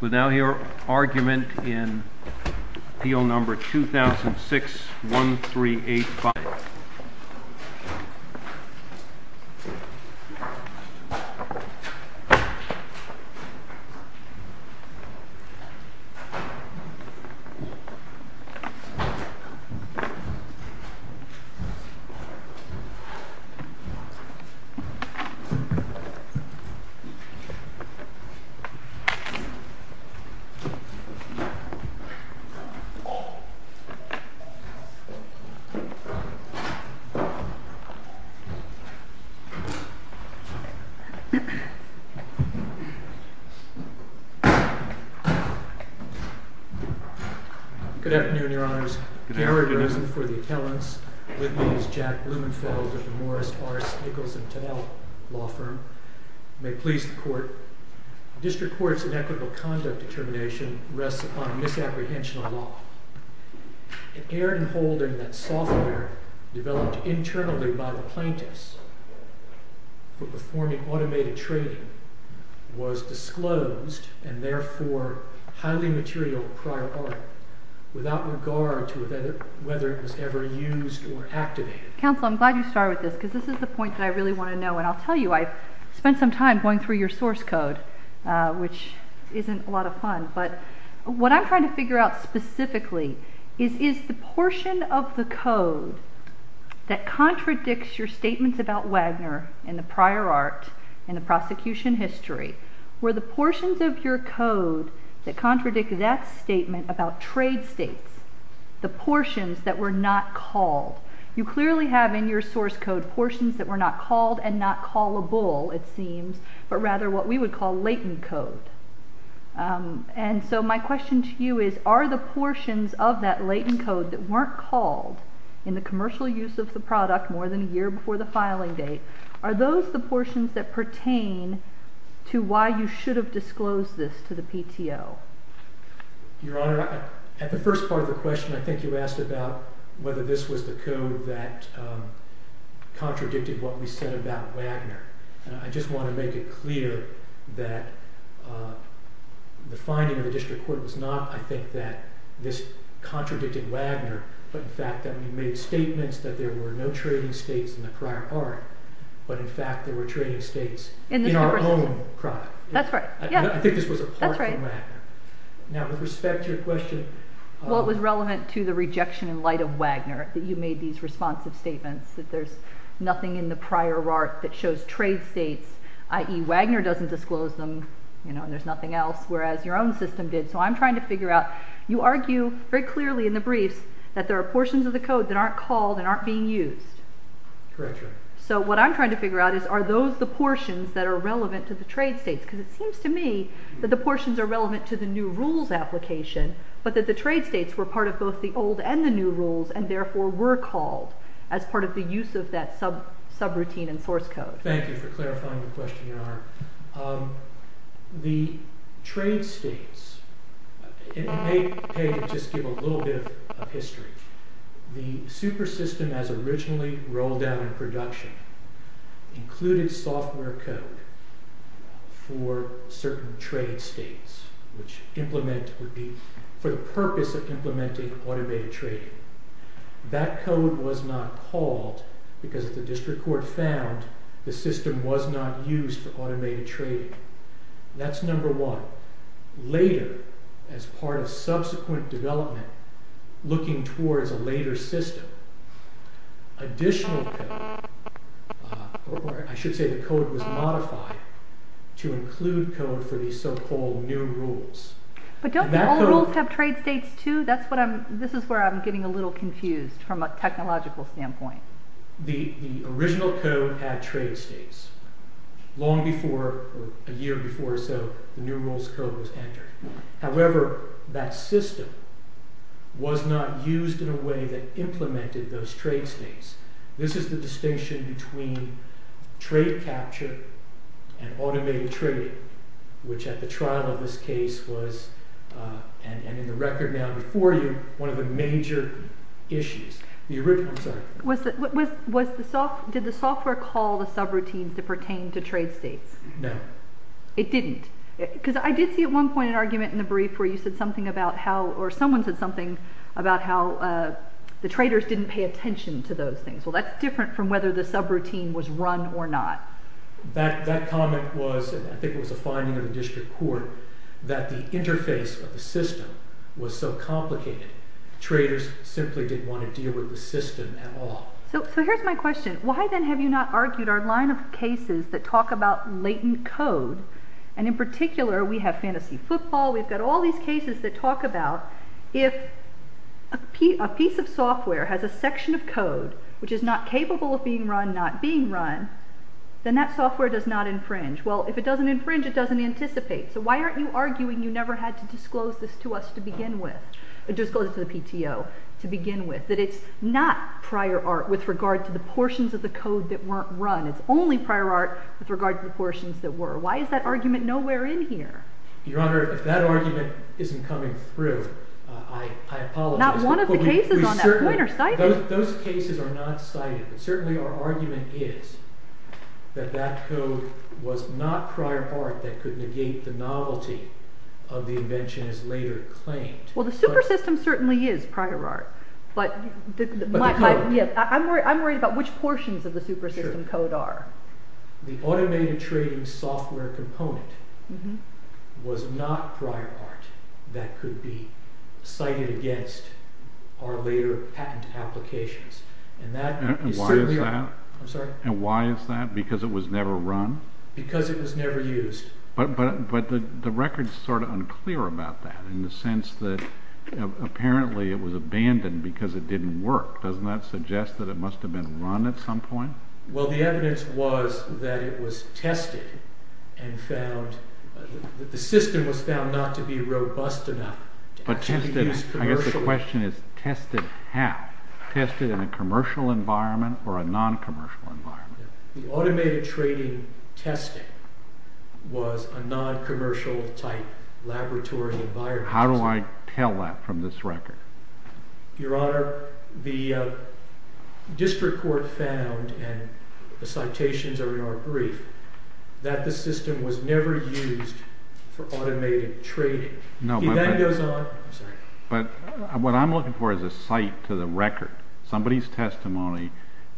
without your argument in appeal number 2006 1 3 8 5 Good afternoon, your honors. Cameron Rosen for the attellants, with me is Jack Blumenfeld of the Morris, Arce, Nicholson, Tonello law firm, may it please the court, district court's inequitable conduct determination rests upon a misapprehension of law, it erred in holding that software developed internally by the plaintiffs for performing automated trading was disclosed and therefore highly material prior art without regard to whether it was ever used or activated. Counsel, I'm glad you started with this because this is the point that I really want to know and I'll tell you I spent some time going through your source code which isn't a lot of fun but what I'm trying to figure out specifically is the portion of the code that contradicts your statements about Wagner in the prior art in the prosecution history where the portions of your code that contradict that statement about trade states, the portions that were not called, you clearly have in your source code portions that were not called and not callable it seems but rather what we would call latent code and so my question to you is are the portions of that latent code that weren't called in the commercial use of the product more than a year before the filing date, are those the portions that pertain to why you should have disclosed this to the PTO? Your Honor, at the first part of the question I think you asked about whether this was the code that contradicted what we said about Wagner and I just want to make it clear that the finding of the district court was not I think that this contradicted Wagner but in fact that we made statements that there were no trading states in the prior art but in fact there were trading states in our own product. That's right. I think this was a part of Wagner. Now with respect to your question. Well it was relevant to the rejection in light of Wagner that you made these responsive statements that there's nothing in the prior art that shows trade states, i.e. Wagner doesn't disclose them and there's nothing else whereas your own system did so I'm trying to figure out, you argue very clearly in the briefs that there are portions of the code that aren't called and aren't being used. Correct Your Honor. So what I'm trying to figure out is are those the portions that are relevant to the trade states because it seems to me that the portions are relevant to the new rules application but that the trade states were part of both the old and the new rules and therefore were called as part of the use of that subroutine and source code. Thank you for clarifying the question Your Honor. The trade states, it may just give a little bit of history. The super system as originally rolled out in production included software code for certain trade states which implement would be for the purpose of implementing automated trading. That code was not called because the district court found the system was not used for automated trading. That's number one. Later, as part of subsequent development, looking towards a later system, additional code, I should say the code was modified to include code for the so-called new rules. But don't the old rules have trade states too? This is where I'm getting a little confused from a technological standpoint. The original code had trade states. Long before, a year before or so, the new rules code was entered. However, that system was not used in a way that implemented those trade states. This is the distinction between trade capture and automated trading which at the trial of this case was, and in the record now before you, one of the major issues. Did the software call the subroutines to pertain to trade states? No. It didn't? Because I did see at one point an argument in the brief where you said something about how, or someone said something about how the traders didn't pay attention to those things. Well, that's different from whether the subroutine was run or not. That comment was, I think it was a finding of the district court, that the interface of the system was so complicated, traders simply didn't want to deal with the system at all. So here's my question. Why then have you not argued our line of cases that talk about latent code? And in particular, we have fantasy football. We've got all these cases that talk about if a piece of software has a section of code which is not capable of being run, not being run, then that software does not infringe. Well, if it doesn't infringe, it doesn't anticipate. So why aren't you arguing you never had to disclose this to us to begin with? Disclose it to the PTO to begin with. That it's not prior art with regard to the portions of the code that weren't run. It's only prior art with regard to the portions that were. Why is that argument nowhere in here? Your Honor, if that argument isn't coming through, I apologize. Not one of the cases on that point are cited. Those cases are not cited. But certainly our argument is that that code was not prior art that could negate the novelty of the invention as later claimed. Well, the super system certainly is prior art. But I'm worried about which portions of the super system code are. The automated trading software component was not prior art that could be cited against our later patent applications. And why is that? I'm sorry? And why is that? Because it was never run? Because it was never used. But the record is sort of unclear about that in the sense that apparently it was abandoned because it didn't work. Doesn't that suggest that it must have been run at some point? Well, the evidence was that it was tested and found. The system was found not to be robust enough to be used commercially. I guess the question is tested how? Tested in a commercial environment or a non-commercial environment? The automated trading testing was a non-commercial type laboratory environment. How do I tell that from this record? Your Honor, the district court found, and the citations are in our brief, that the system was never used for automated trading. But what I'm looking for is a cite to the record. Somebody's testimony,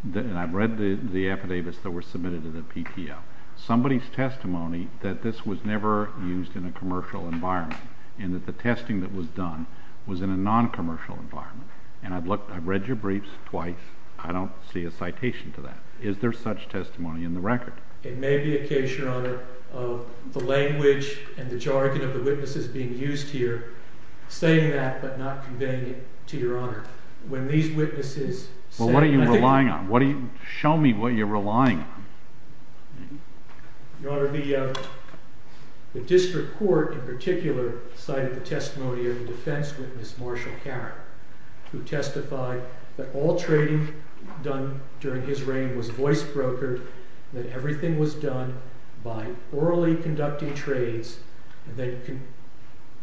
and I've read the affidavits that were submitted to the PTO, somebody's testimony that this was never used in a commercial environment and that the testing that was done was in a non-commercial environment. And I've read your briefs twice. I don't see a citation to that. Is there such testimony in the record? It may be a case, Your Honor, of the language and the jargon of the witnesses being used here saying that but not conveying it to Your Honor. When these witnesses say that. Well, what are you relying on? Show me what you're relying on. Your Honor, the district court in particular cited the testimony of the defense witness, Marshall Caron, who testified that all trading done during his reign was voice brokered, that everything was done by orally conducting trades and then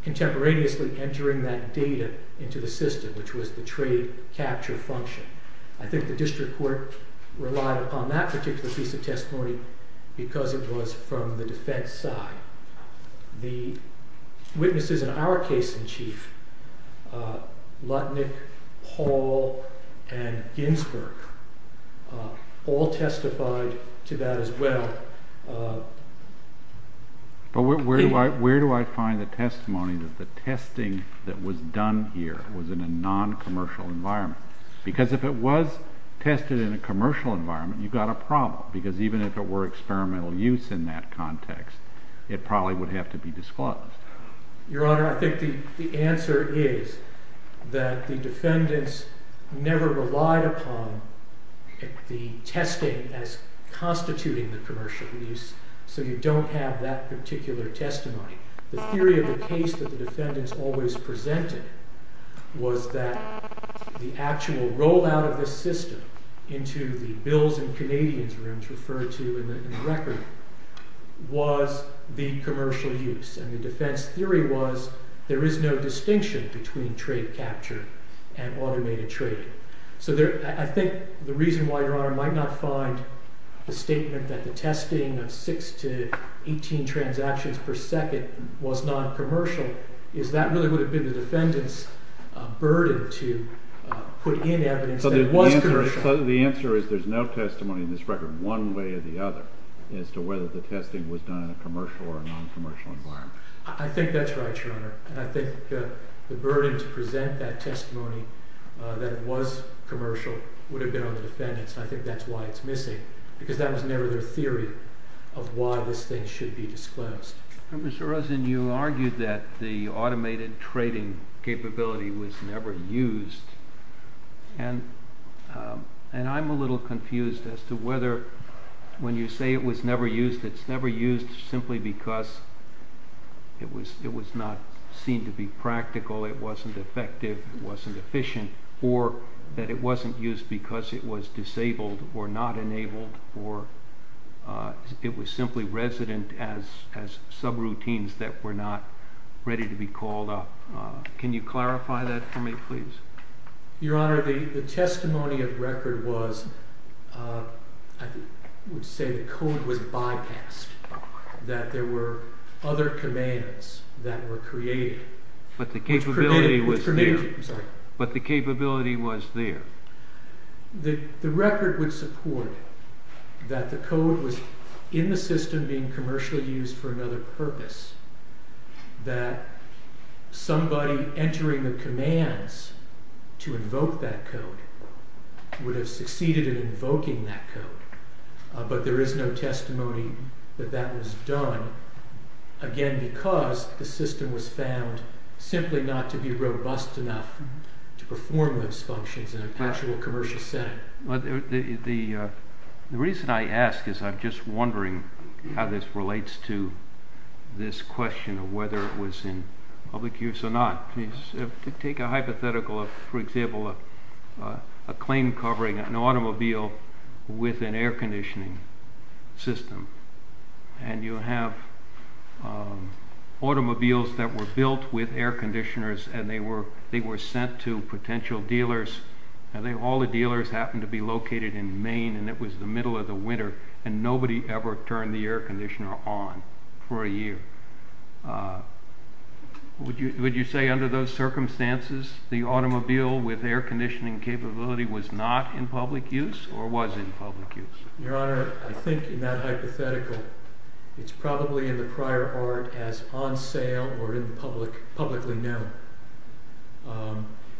contemporaneously entering that data into the system, which was the trade capture function. I think the district court relied upon that particular piece of testimony because it was from the defense side. The witnesses in our case in chief, Lutnick, Paul, and Ginsberg, all testified to that as well. But where do I find the testimony that the testing that was done here was in a non-commercial environment? Because if it was tested in a commercial environment, you've got a problem because even if it were experimental use in that context, it probably would have to be disclosed. Your Honor, I think the answer is that the defendants never relied upon the testing as constituting the commercial use, so you don't have that particular testimony. The theory of the case that the defendants always presented was that the actual rollout of the system into the bills and Canadians rooms referred to in the record was the commercial use. And the defense theory was there is no distinction between trade capture and automated trading. So I think the reason why Your Honor might not find the statement that the testing of 6 to 18 transactions per second was not commercial is that really would have been the defendants' burden to put in evidence that it was commercial. So the answer is there's no testimony in this record one way or the other as to whether the testing was done in a commercial or non-commercial environment. I think that's right, Your Honor. And I think the burden to present that testimony that it was commercial would have been on the defendants, and I think that's why it's missing because that was never their theory of why this thing should be disclosed. Mr. Rosen, you argued that the automated trading capability was never used, and I'm a little confused as to whether when you say it was never used, it's never used simply because it was not seen to be practical, it wasn't effective, it wasn't efficient, or that it wasn't used because it was disabled or not enabled or it was simply resident as subroutines that were not ready to be called up. Can you clarify that for me, please? Your Honor, the testimony of record was, I would say the code was bypassed, that there were other commands that were created. But the capability was there. The record would support that the code was in the system being commercially used for another purpose, that somebody entering the commands to invoke that code would have succeeded in invoking that code. But there is no testimony that that was done, again, because the system was found simply not to be robust enough to perform those functions in an actual commercial setting. The reason I ask is I'm just wondering how this relates to this question of whether it was in public use or not. Take a hypothetical of, for example, a claim covering an automobile with an air conditioning system, and you have automobiles that were built with air conditioners and they were sent to potential dealers, and all the dealers happened to be located in Maine, and it was the middle of the winter, and nobody ever turned the air conditioner on for a year. Would you say under those circumstances the automobile with air conditioning capability was not in public use or was in public use? Your Honor, I think in that hypothetical, it's probably in the prior art as on sale or publicly known.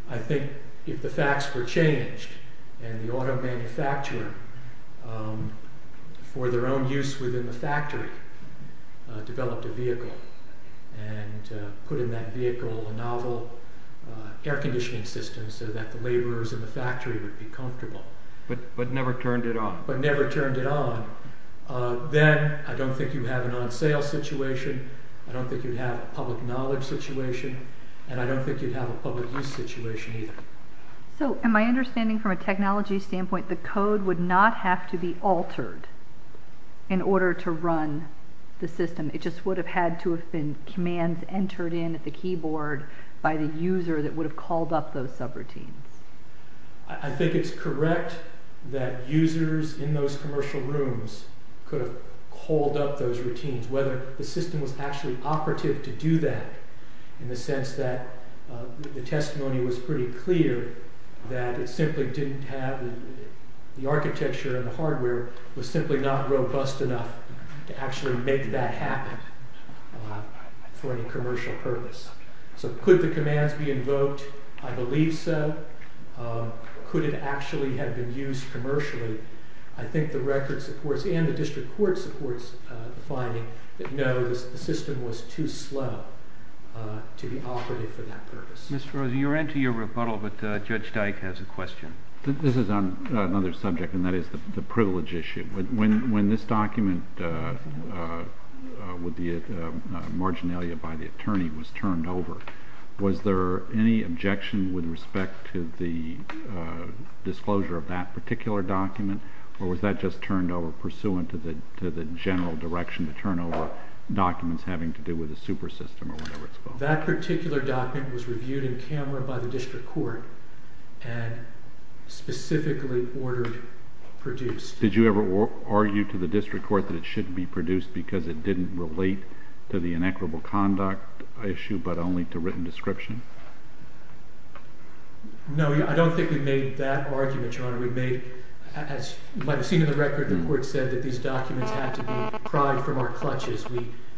I think if the facts were changed and the auto manufacturer, for their own use within the factory, developed a vehicle and put in that vehicle a novel air conditioning system so that the laborers in the factory would be comfortable. But never turned it on? But never turned it on. Then I don't think you'd have an on sale situation. I don't think you'd have a public knowledge situation, and I don't think you'd have a public use situation either. So in my understanding from a technology standpoint, the code would not have to be altered in order to run the system. It just would have had to have been commands entered in at the keyboard by the user that would have called up those subroutines. I think it's correct that users in those commercial rooms could have called up those routines, whether the system was actually operative to do that in the sense that the testimony was pretty clear that it simply didn't have the architecture and the hardware was simply not robust enough to actually make that happen for any commercial purpose. So could the commands be invoked? I believe so. Could it actually have been used commercially? I think the record supports and the district court supports the finding that no, the system was too slow to be operative for that purpose. Mr. Rosen, you're into your rebuttal, but Judge Dyke has a question. This is on another subject, and that is the privilege issue. When this document with the marginalia by the attorney was turned over, was there any objection with respect to the disclosure of that particular document, or was that just turned over pursuant to the general direction to turn over documents having to do with the super system or whatever it's called? That particular document was reviewed in camera by the district court and specifically ordered produced. Did you ever argue to the district court that it shouldn't be produced because it didn't relate to the inequitable conduct issue but only to written description? No, I don't think we made that argument, Your Honor. We made, as you might have seen in the record, the court said that these documents had to be pried from our clutches.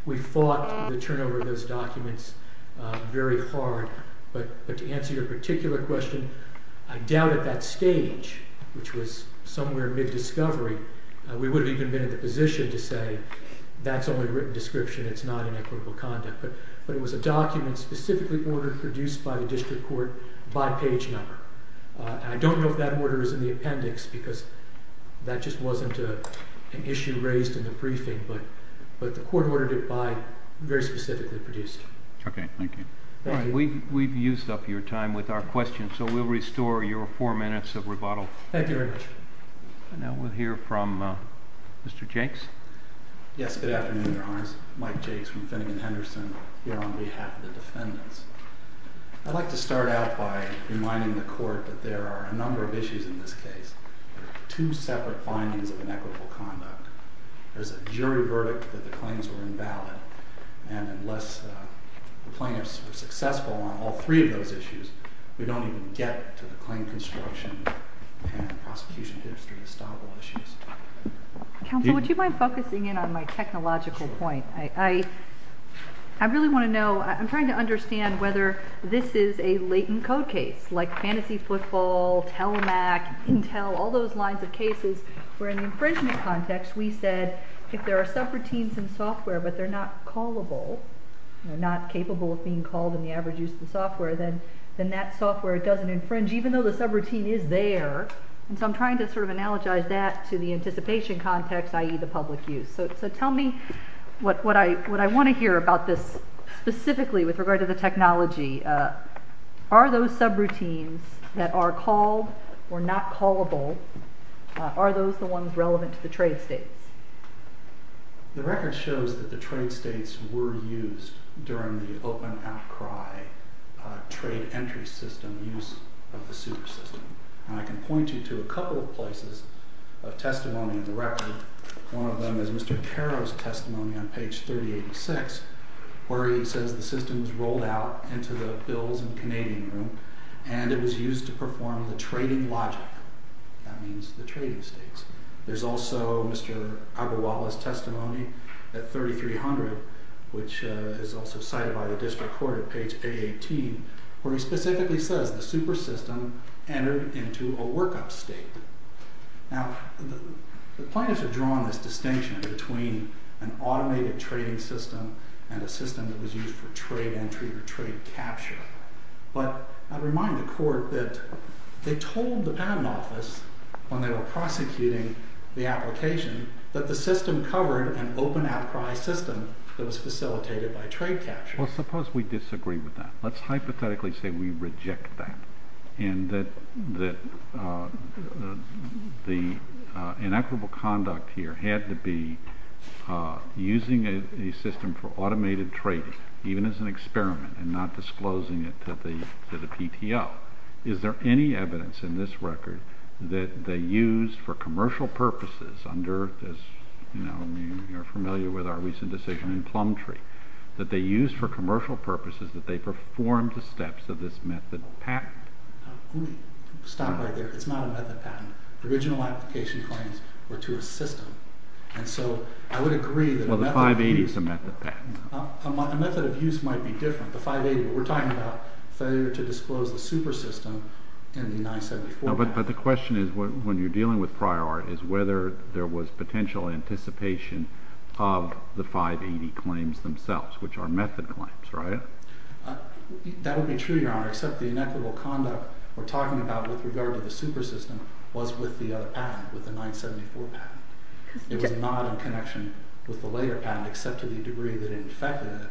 We fought the turnover of those documents very hard. But to answer your particular question, I doubt at that stage, which was somewhere mid-discovery, we would have even been in the position to say that's only written description, it's not inequitable conduct. But it was a document specifically ordered produced by the district court by page number. I don't know if that order is in the appendix because that just wasn't an issue raised in the briefing, but the court ordered it by very specifically produced. Okay, thank you. We've used up your time with our questions, so we'll restore your four minutes of rebuttal. Thank you very much. Now we'll hear from Mr. Jakes. Yes, good afternoon, Your Honors. Mike Jakes from Finnegan-Henderson here on behalf of the defendants. I'd like to start out by reminding the court that there are a number of issues in this case. There are two separate findings of inequitable conduct. There's a jury verdict that the claims were invalid, and unless the plaintiffs were successful on all three of those issues, we don't even get to the claim construction and prosecution history of the Stavel issues. Counsel, would you mind focusing in on my technological point? I really want to know. I'm trying to understand whether this is a latent code case, like Fantasy Football, Telemac, Intel, all those lines of cases where in the infringement context we said if there are subroutines in software but they're not callable, they're not capable of being called in the average use of the software, then that software doesn't infringe, even though the subroutine is there. So I'm trying to sort of analogize that to the anticipation context, i.e., the public use. So tell me what I want to hear about this specifically with regard to the technology. Are those subroutines that are called or not callable, are those the ones relevant to the trade states? The record shows that the trade states were used during the open outcry trade entry system use of the super system. And I can point you to a couple of places of testimony in the record. One of them is Mr. Caro's testimony on page 3086, where he says the system was rolled out into the Bills and Canadian Room and it was used to perform the trading logic. That means the trading states. There's also Mr. Agarwala's testimony at 3300, which is also cited by the district court at page 818, where he specifically says the super system entered into a workup state. Now, the plaintiffs have drawn this distinction between an automated trading system and a system that was used for trade entry or trade capture. But I remind the court that they told the patent office when they were prosecuting the application that the system covered an open outcry system that was facilitated by trade capture. Well, suppose we disagree with that. Let's hypothetically say we reject that and that the inequitable conduct here had to be using a system for automated trading, even as an experiment, and not disclosing it to the PTO. Is there any evidence in this record that they used for commercial purposes under this, you know, you're familiar with our recent decision in Plumtree, that they used for commercial purposes, that they performed the steps of this method of patent? Stop right there. It's not a method patent. Original application claims were to a system. And so I would agree that a method of use... Well, the 580 is a method patent. A method of use might be different. The 580, but we're talking about failure to disclose the super system in the 974 patent. But the question is, when you're dealing with prior art, is whether there was potential anticipation of the 580 claims themselves, which are method claims, right? That would be true, Your Honor, except the inequitable conduct we're talking about with regard to the super system was with the other patent, with the 974 patent. It was not in connection with the later patent, except to the degree that it affected it.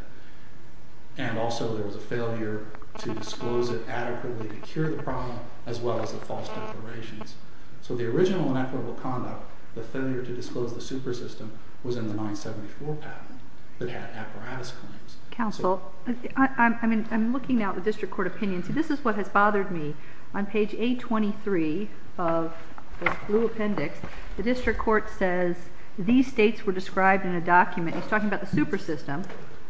And also there was a failure to disclose it adequately to cure the problem, as well as the false declarations. So the original inequitable conduct, the failure to disclose the super system, was in the 974 patent that had apparatus claims. Counsel, I'm looking now at the district court opinion. See, this is what has bothered me. On page 823 of the blue appendix, the district court says these states were described in a document. He's talking about the super system.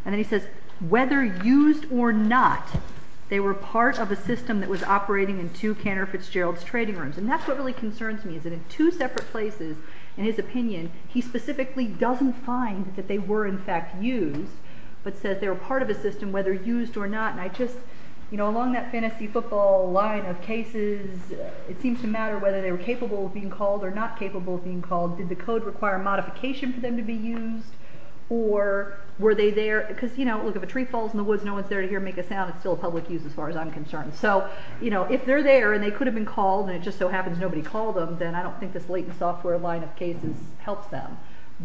And then he says, whether used or not, they were part of a system that was operating in two Cantor Fitzgerald's trading rooms. And that's what really concerns me, is that in two separate places in his opinion, he specifically doesn't find that they were in fact used, but says they were part of a system, whether used or not. And I just, you know, along that fantasy football line of cases, it seems to matter whether they were capable of being called or not capable of being called. Did the code require modification for them to be used? Or were they there? Because, you know, look, if a tree falls in the woods and no one's there to hear it make a sound, it's still a public use as far as I'm concerned. So, you know, if they're there and they could have been called and it just so happens nobody called them, then I don't think this latent software line of cases helps them.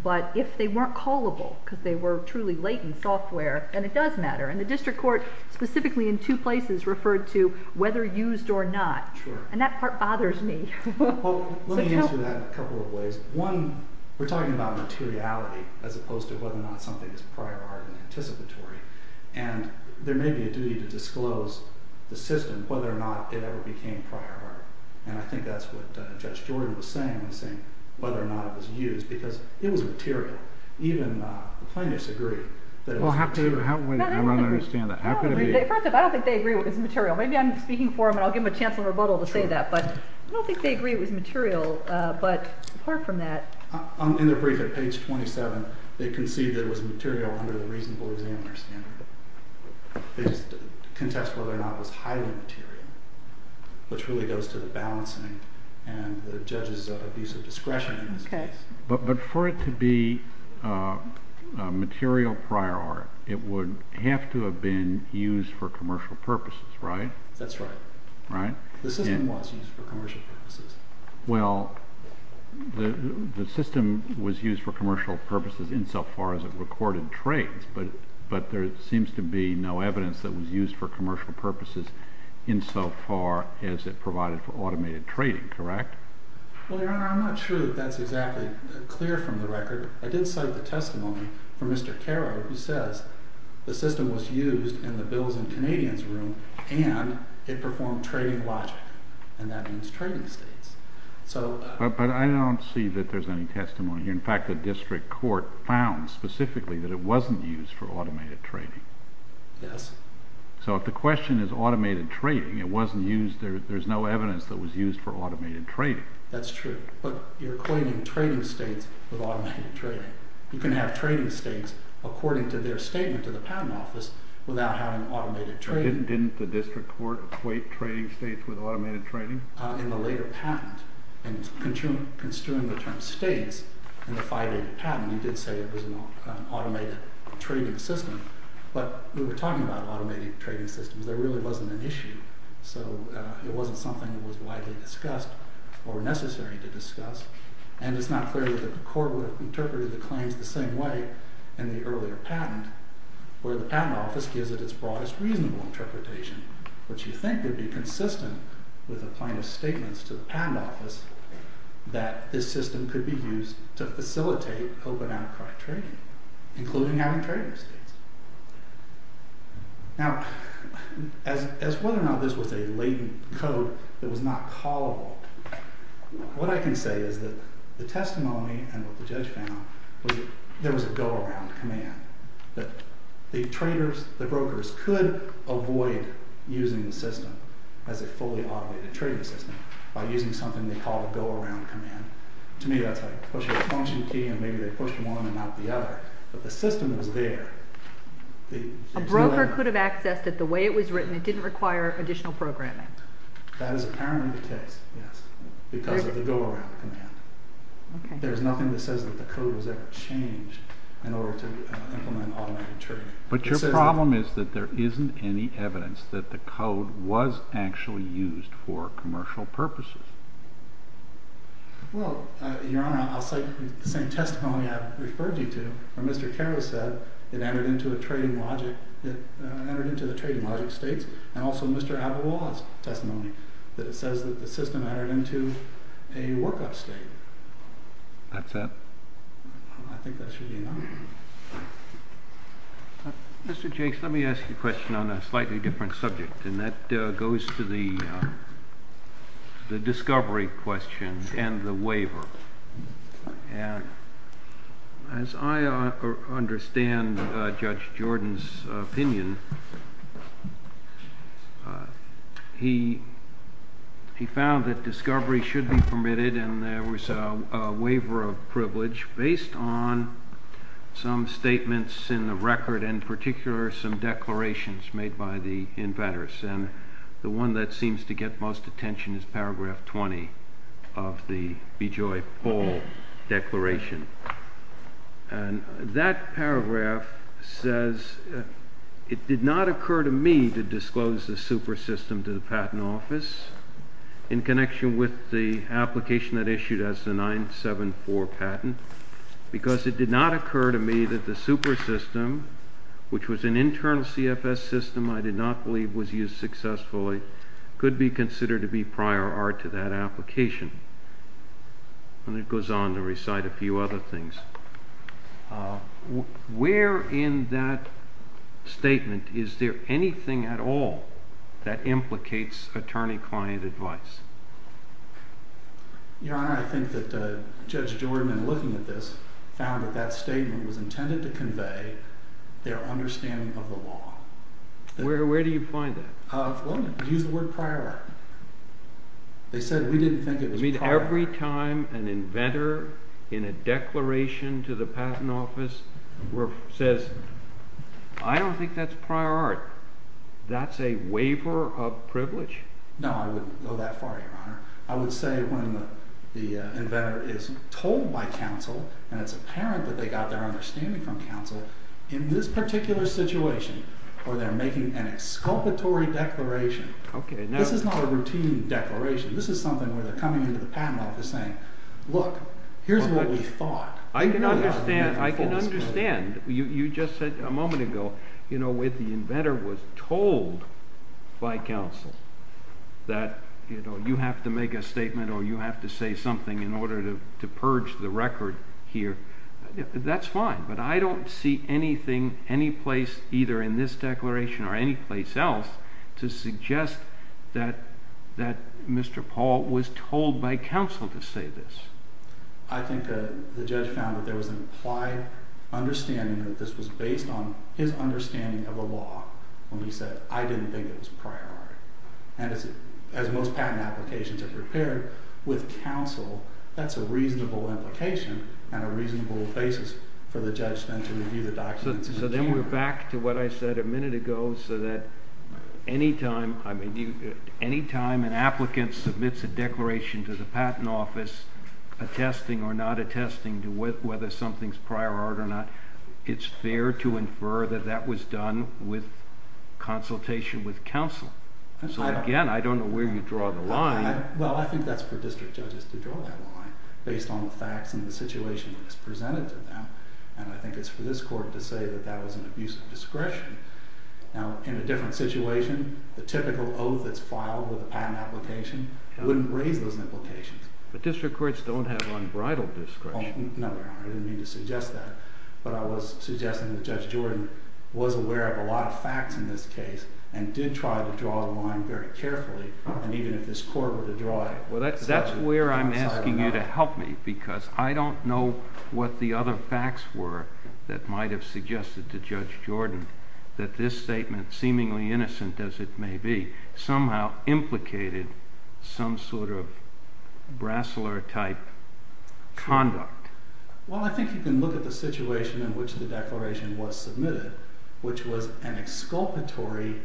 But if they weren't callable, because they were truly latent software, then it does matter. And the district court specifically in two places referred to whether used or not. And that part bothers me. Let me answer that in a couple of ways. One, we're talking about materiality as opposed to whether or not something is prior art and anticipatory. And there may be a duty to disclose the system whether or not it ever became prior art. And I think that's what Judge Jordan was saying when he was saying whether or not it was used. Because it was material. Even the plaintiffs agree that it was material. Well, how can we not understand that? I don't agree. First off, I don't think they agree it was material. Maybe I'm speaking for them, and I'll give them a chance in rebuttal to say that. But I don't think they agree it was material. But apart from that... In their brief at page 27, they concede that it was material under the reasonable examiner standard. They just contest whether or not it was highly material, which really goes to the balancing and the judge's abuse of discretion in this case. But for it to be material prior art, it would have to have been used for commercial purposes, right? That's right. Right? The system was used for commercial purposes. Well, the system was used for commercial purposes insofar as it recorded trades. But there seems to be no evidence that it was used for commercial purposes insofar as it provided for automated trading, correct? Well, Your Honor, I'm not sure that that's exactly clear from the record. I did cite the testimony from Mr. Carrow, who says the system was used in the Bills and Canadians room and it performed trading logic. And that means trading states. But I don't see that there's any testimony here. In fact, the district court found specifically that it wasn't used for automated trading. Yes. So if the question is automated trading, it wasn't used, there's no evidence that it was used for automated trading. That's true. But you're equating trading states with automated trading. You can have trading states, according to their statement to the patent office, without having automated trading. Didn't the district court equate trading states with automated trading? In the later patent. And construing the term states in the 5A patent, you did say it was an automated trading system. But we were talking about automated trading systems. There really wasn't an issue. So it wasn't something that was widely discussed or necessary to discuss. And it's not clear that the court would have interpreted the claims the same way in the earlier patent, where the patent office gives it its broadest reasonable interpretation, which you think would be consistent with the plaintiff's statements to the patent office, that this system could be used to facilitate open-ended trade, including having trading states. Now, as whether or not this was a latent code that was not callable, what I can say is that the testimony and what the judge found was that there was a go-around command, that the brokers could avoid using the system as a fully automated trading system by using something they call a go-around command. To me, that's like pushing a function key, and maybe they pushed one and not the other. But the system was there. A broker could have accessed it the way it was written. It didn't require additional programming. That is apparently the case, yes, because of the go-around command. There's nothing that says that the code was ever changed in order to implement automated trading. But your problem is that there isn't any evidence that the code was actually used for commercial purposes. Well, Your Honor, I'll cite the same testimony I've referred you to, where Mr. Carroll said it entered into the trading logic states, and also Mr. Avala's testimony, that it says that the system entered into a work-up state. That's it? I think that's really enough. Mr. Jakes, let me ask you a question on a slightly different subject, and that goes to the discovery question and the waiver. As I understand Judge Jordan's opinion, he found that discovery should be permitted, and there was a waiver of privilege based on some statements in the record, in particular some declarations made by the inventors. And the one that seems to get most attention is paragraph 20 of the B. Joy Paul Declaration. And that paragraph says, it did not occur to me to disclose the super system to the patent office in connection with the application that issued as the 974 patent, because it did not occur to me that the super system, which was an internal CFS system I did not believe was used successfully, could be considered to be prior art to that application. And it goes on to recite a few other things. Where in that statement is there anything at all that implicates attorney-client advice? Your Honor, I think that Judge Jordan, in looking at this, found that that statement was intended to convey their understanding of the law. Where do you find that? Well, use the word prior art. They said we didn't think it was prior art. You mean every time an inventor in a declaration to the patent office says, I don't think that's prior art, that's a waiver of privilege? No, I wouldn't go that far, Your Honor. I would say when the inventor is told by counsel, and it's apparent that they got their understanding from counsel, in this particular situation, where they're making an exculpatory declaration, this is not a routine declaration. This is something where they're coming into the patent office saying, look, here's what we thought. I can understand. You just said a moment ago, when the inventor was told by counsel that you have to make a statement or you have to say something in order to purge the record here, that's fine, but I don't see anything, any place either in this declaration or any place else to suggest that Mr. Paul was told by counsel to say this. I think the judge found that there was an implied understanding that this was based on his understanding of the law when he said, I didn't think it was prior art. And as most patent applications are prepared with counsel, that's a reasonable implication and a reasonable basis for the judge then to review the documents. So then we're back to what I said a minute ago, so that any time an applicant submits a declaration to the patent office attesting or not attesting to whether something's prior art or not, it's fair to infer that that was done with consultation with counsel. So again, I don't know where you draw the line. Well, I think that's for district judges to draw that line based on the facts and the situation that is presented to them. And I think it's for this court to say that that was an abuse of discretion. Now, in a different situation, the typical oath that's filed with a patent application wouldn't raise those implications. But district courts don't have unbridled discretion. No, Your Honor, I didn't mean to suggest that. But I was suggesting that Judge Jordan was aware of a lot of facts in this case and did try to draw the line very carefully. And even if this court were to draw it, that's where I'm asking you to help me because I don't know what the other facts were that might have suggested to Judge Jordan that this statement, seemingly innocent as it may be, somehow implicated some sort of brassler-type conduct. Well, I think you can look at the situation in which the declaration was submitted, which was an exculpatory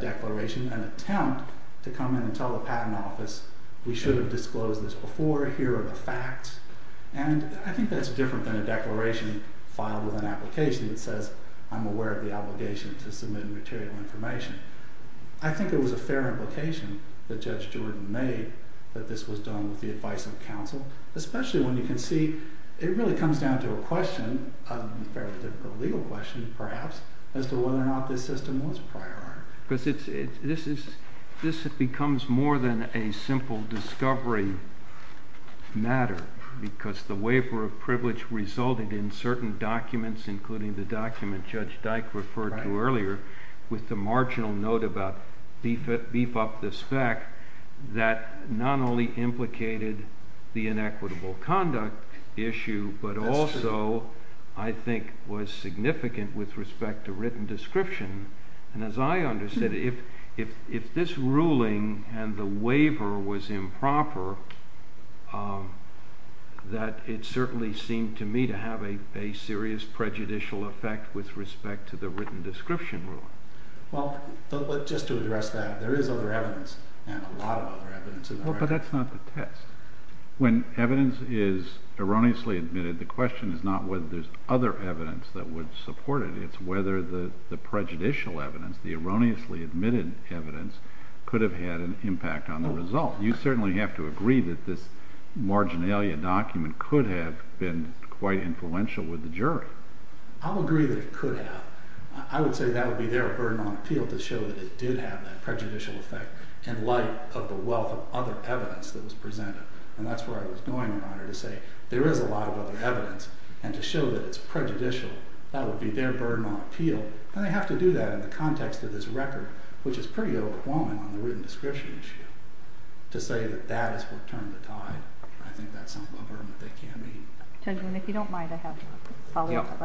declaration, an attempt to come in and tell the patent office, we should have disclosed this before, here are the facts. And I think that's different than a declaration filed with an application that says I'm aware of the obligation to submit material information. I think it was a fair implication that Judge Jordan made that this was done with the advice of counsel, especially when you can see it really comes down to a question, a fairly difficult legal question perhaps, as to whether or not this system was prior art. Because this becomes more than a simple discovery matter because the waiver of privilege resulted in certain documents, including the document Judge Dyke referred to earlier, with the marginal note about beef up the spec, that not only implicated the inequitable conduct issue, but also I think was significant with respect to written description. And as I understand it, if this ruling and the waiver was improper, that it certainly seemed to me to have a serious prejudicial effect with respect to the written description ruling. Well, just to address that, there is other evidence, and a lot of other evidence. But that's not the test. When evidence is erroneously admitted, the question is not whether there's other evidence that would support it, it's whether the prejudicial evidence, the erroneously admitted evidence, could have had an impact on the result. You certainly have to agree that this marginalia document could have been quite influential with the jury. I would agree that it could have. I would say that would be their burden on appeal to show that it did have that prejudicial effect in light of the wealth of other evidence that was presented. And that's where I was going, Your Honor, to say there is a lot of other evidence, and to show that it's prejudicial, that would be their burden on appeal. And they have to do that in the context of this record, which is pretty overwhelming on the written description issue. To say that that is what turned the tide, I think that's a burden that they can't meet. Judge, if you don't mind, I have a follow-up.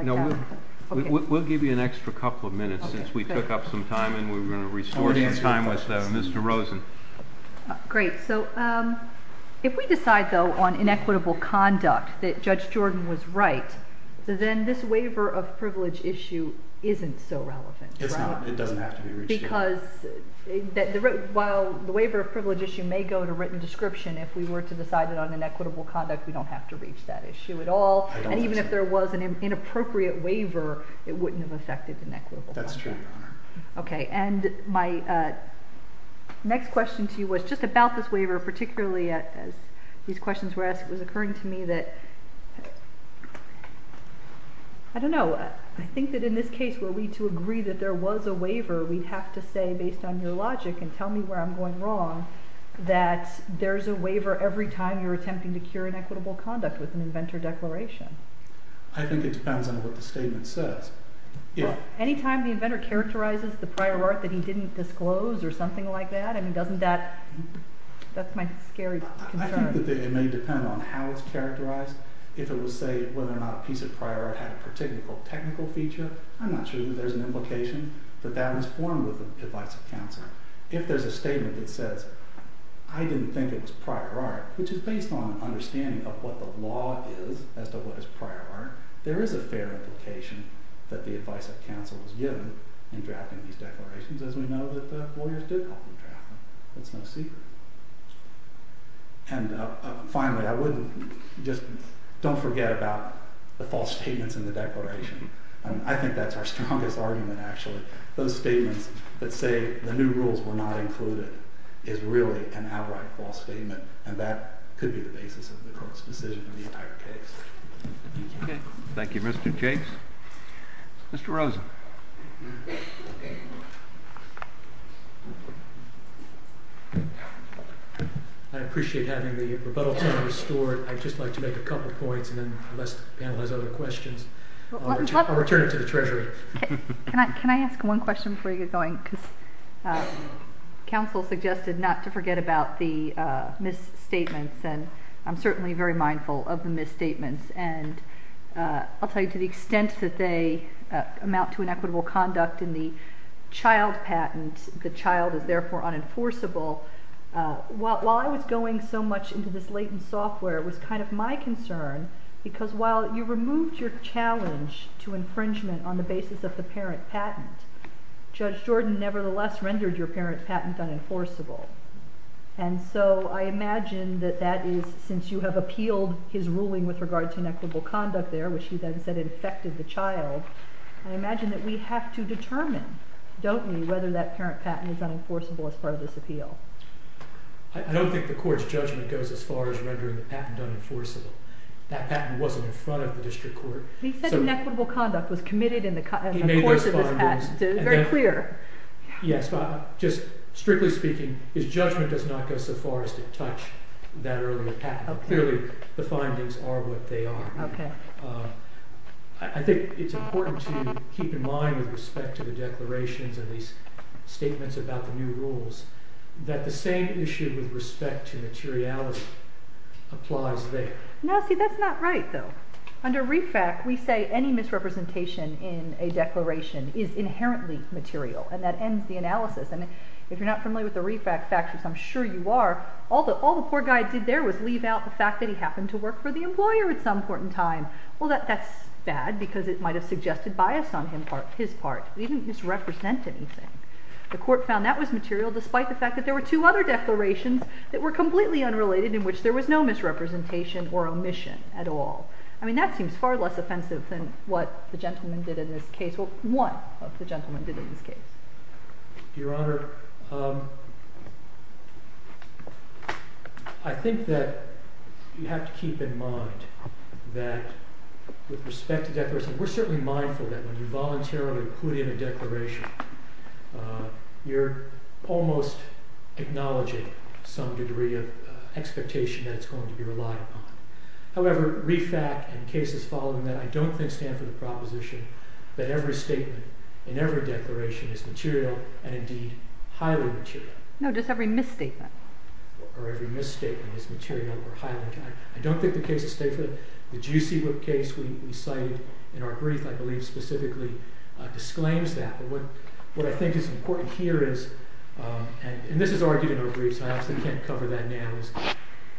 We'll give you an extra couple of minutes since we took up some time, and we're going to restore some time with Mr. Rosen. Great. If we decide, though, on inequitable conduct, that Judge Jordan was right, then this waiver of privilege issue isn't so relevant. It's not. It doesn't have to be reached. Because while the waiver of privilege issue may go to written description, if we were to decide it on inequitable conduct, we don't have to reach that issue at all. And even if there was an inappropriate waiver, it wouldn't have affected inequitable conduct. That's true, Your Honor. Okay. And my next question to you was just about this waiver, particularly as these questions were asked. It was occurring to me that... I don't know. I think that in this case, were we to agree that there was a waiver, we'd have to say, based on your logic, and tell me where I'm going wrong, that there's a waiver every time you're attempting to cure inequitable conduct with an inventor declaration. I think it depends on what the statement says. Any time the inventor characterizes the prior art that he didn't disclose or something like that, I mean, doesn't that... That's my scary concern. I think that it may depend on how it's characterized. If it would say whether or not a piece of prior art had a particular technical feature, I'm not sure that there's an implication that that was formed with the advice of counsel. If there's a statement that says, I didn't think it was prior art, which is based on an understanding of what the law is as to what is prior art, there is a fair implication that the advice of counsel was given in drafting these declarations, as we know that the lawyers did help them draft them. That's no secret. And finally, I wouldn't... Just don't forget about the false statements in the declaration. I think that's our strongest argument, actually. Those statements that say the new rules were not included is really an outright false statement, and that could be the basis of the court's decision in the entire case. Okay. Thank you, Mr. James. Mr. Rosen. I appreciate having the rebuttal time restored. I'd just like to make a couple of points and then let's panelize other questions. I'll return it to the Treasury. Can I ask one question before you get going? Because counsel suggested not to forget about the misstatements, and I'm certainly very mindful of the misstatements. And I'll tell you, to the extent that they amount to inequitable conduct in the child patent, the child is therefore unenforceable. While I was going so much into this latent software, it was kind of my concern, because while you removed your challenge to infringement on the basis of the parent patent, Judge Jordan nevertheless rendered your parent patent unenforceable. And so I imagine that that is, since you have appealed his ruling with regard to inequitable conduct there, which he then said it affected the child, I imagine that we have to determine, don't we, whether that parent patent is unenforceable as part of this appeal. I don't think the court's judgment goes as far as rendering the patent unenforceable. That patent wasn't in front of the district court. He said inequitable conduct was committed in the course of this patent. It's very clear. Yes, but just strictly speaking, his judgment does not go so far as to touch that earlier patent. Clearly, the findings are what they are. I think it's important to keep in mind with respect to the declarations and these statements about the new rules that the same issue with respect to materiality applies there. No, see, that's not right, though. Under REFAC, we say any misrepresentation in a declaration is inherently material, and that ends the analysis. And if you're not familiar with the REFAC facts, which I'm sure you are, all the poor guy did there was leave out the fact that he happened to work for the employer at some point in time. Well, that's bad because it might have suggested bias on his part. He didn't misrepresent anything. The court found that was material, despite the fact that there were two other declarations that were completely unrelated in which there was no misrepresentation or omission at all. I mean, that seems far less offensive than what the gentleman did in this case. Well, one of the gentlemen did in this case. Your Honor, I think that you have to keep in mind that with respect to declarations, we're certainly mindful that when you voluntarily put in a declaration, you're almost acknowledging some degree of expectation that it's going to be relied upon. However, REFAC and cases following that, I don't think stand for the proposition that every statement in every declaration is material and, indeed, highly material. No, just every misstatement. Or every misstatement is material or highly material. I don't think the case is stateful. The Juicy Whip case we cited in our brief, I believe, specifically disclaims that. But what I think is important here is, and this is argued in our brief, so I obviously can't cover that now, is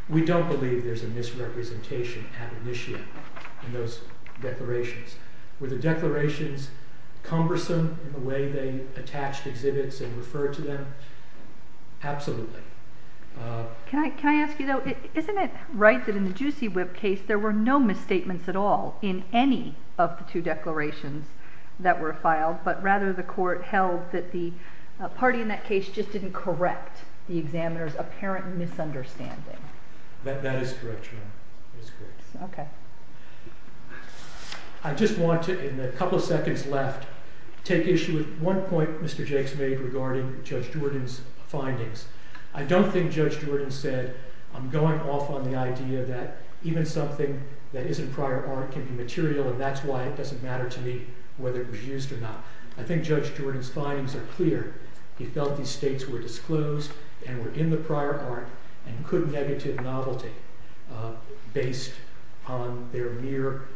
we don't believe there's a misrepresentation at initia in those declarations. Were the declarations cumbersome in the way they attached exhibits and referred to them? Absolutely. Can I ask you, though? Isn't it right that in the Juicy Whip case there were no misstatements at all in any of the two declarations that were filed, but rather the court held that the party in that case just didn't correct the examiner's apparent misunderstanding? That is correct, Your Honor. Okay. I just want to, in the couple of seconds left, take issue with one point Mr. Jakes made regarding Judge Jordan's findings. I don't think Judge Jordan said, I'm going off on the idea that even something that isn't prior art can be material, and that's why it doesn't matter to me whether it was used or not. I think Judge Jordan's findings are clear. He felt these states were disclosed and were in the prior art and could have negative novelty based on their mere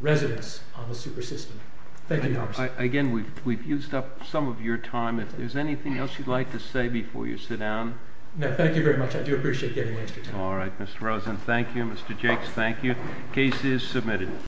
residence on the super system. Thank you, Your Honor. Again, we've used up some of your time. If there's anything else you'd like to say before you sit down? No, thank you very much. I do appreciate getting the extra time. All right, Mr. Rosen, thank you. Mr. Jakes, thank you. Case is submitted.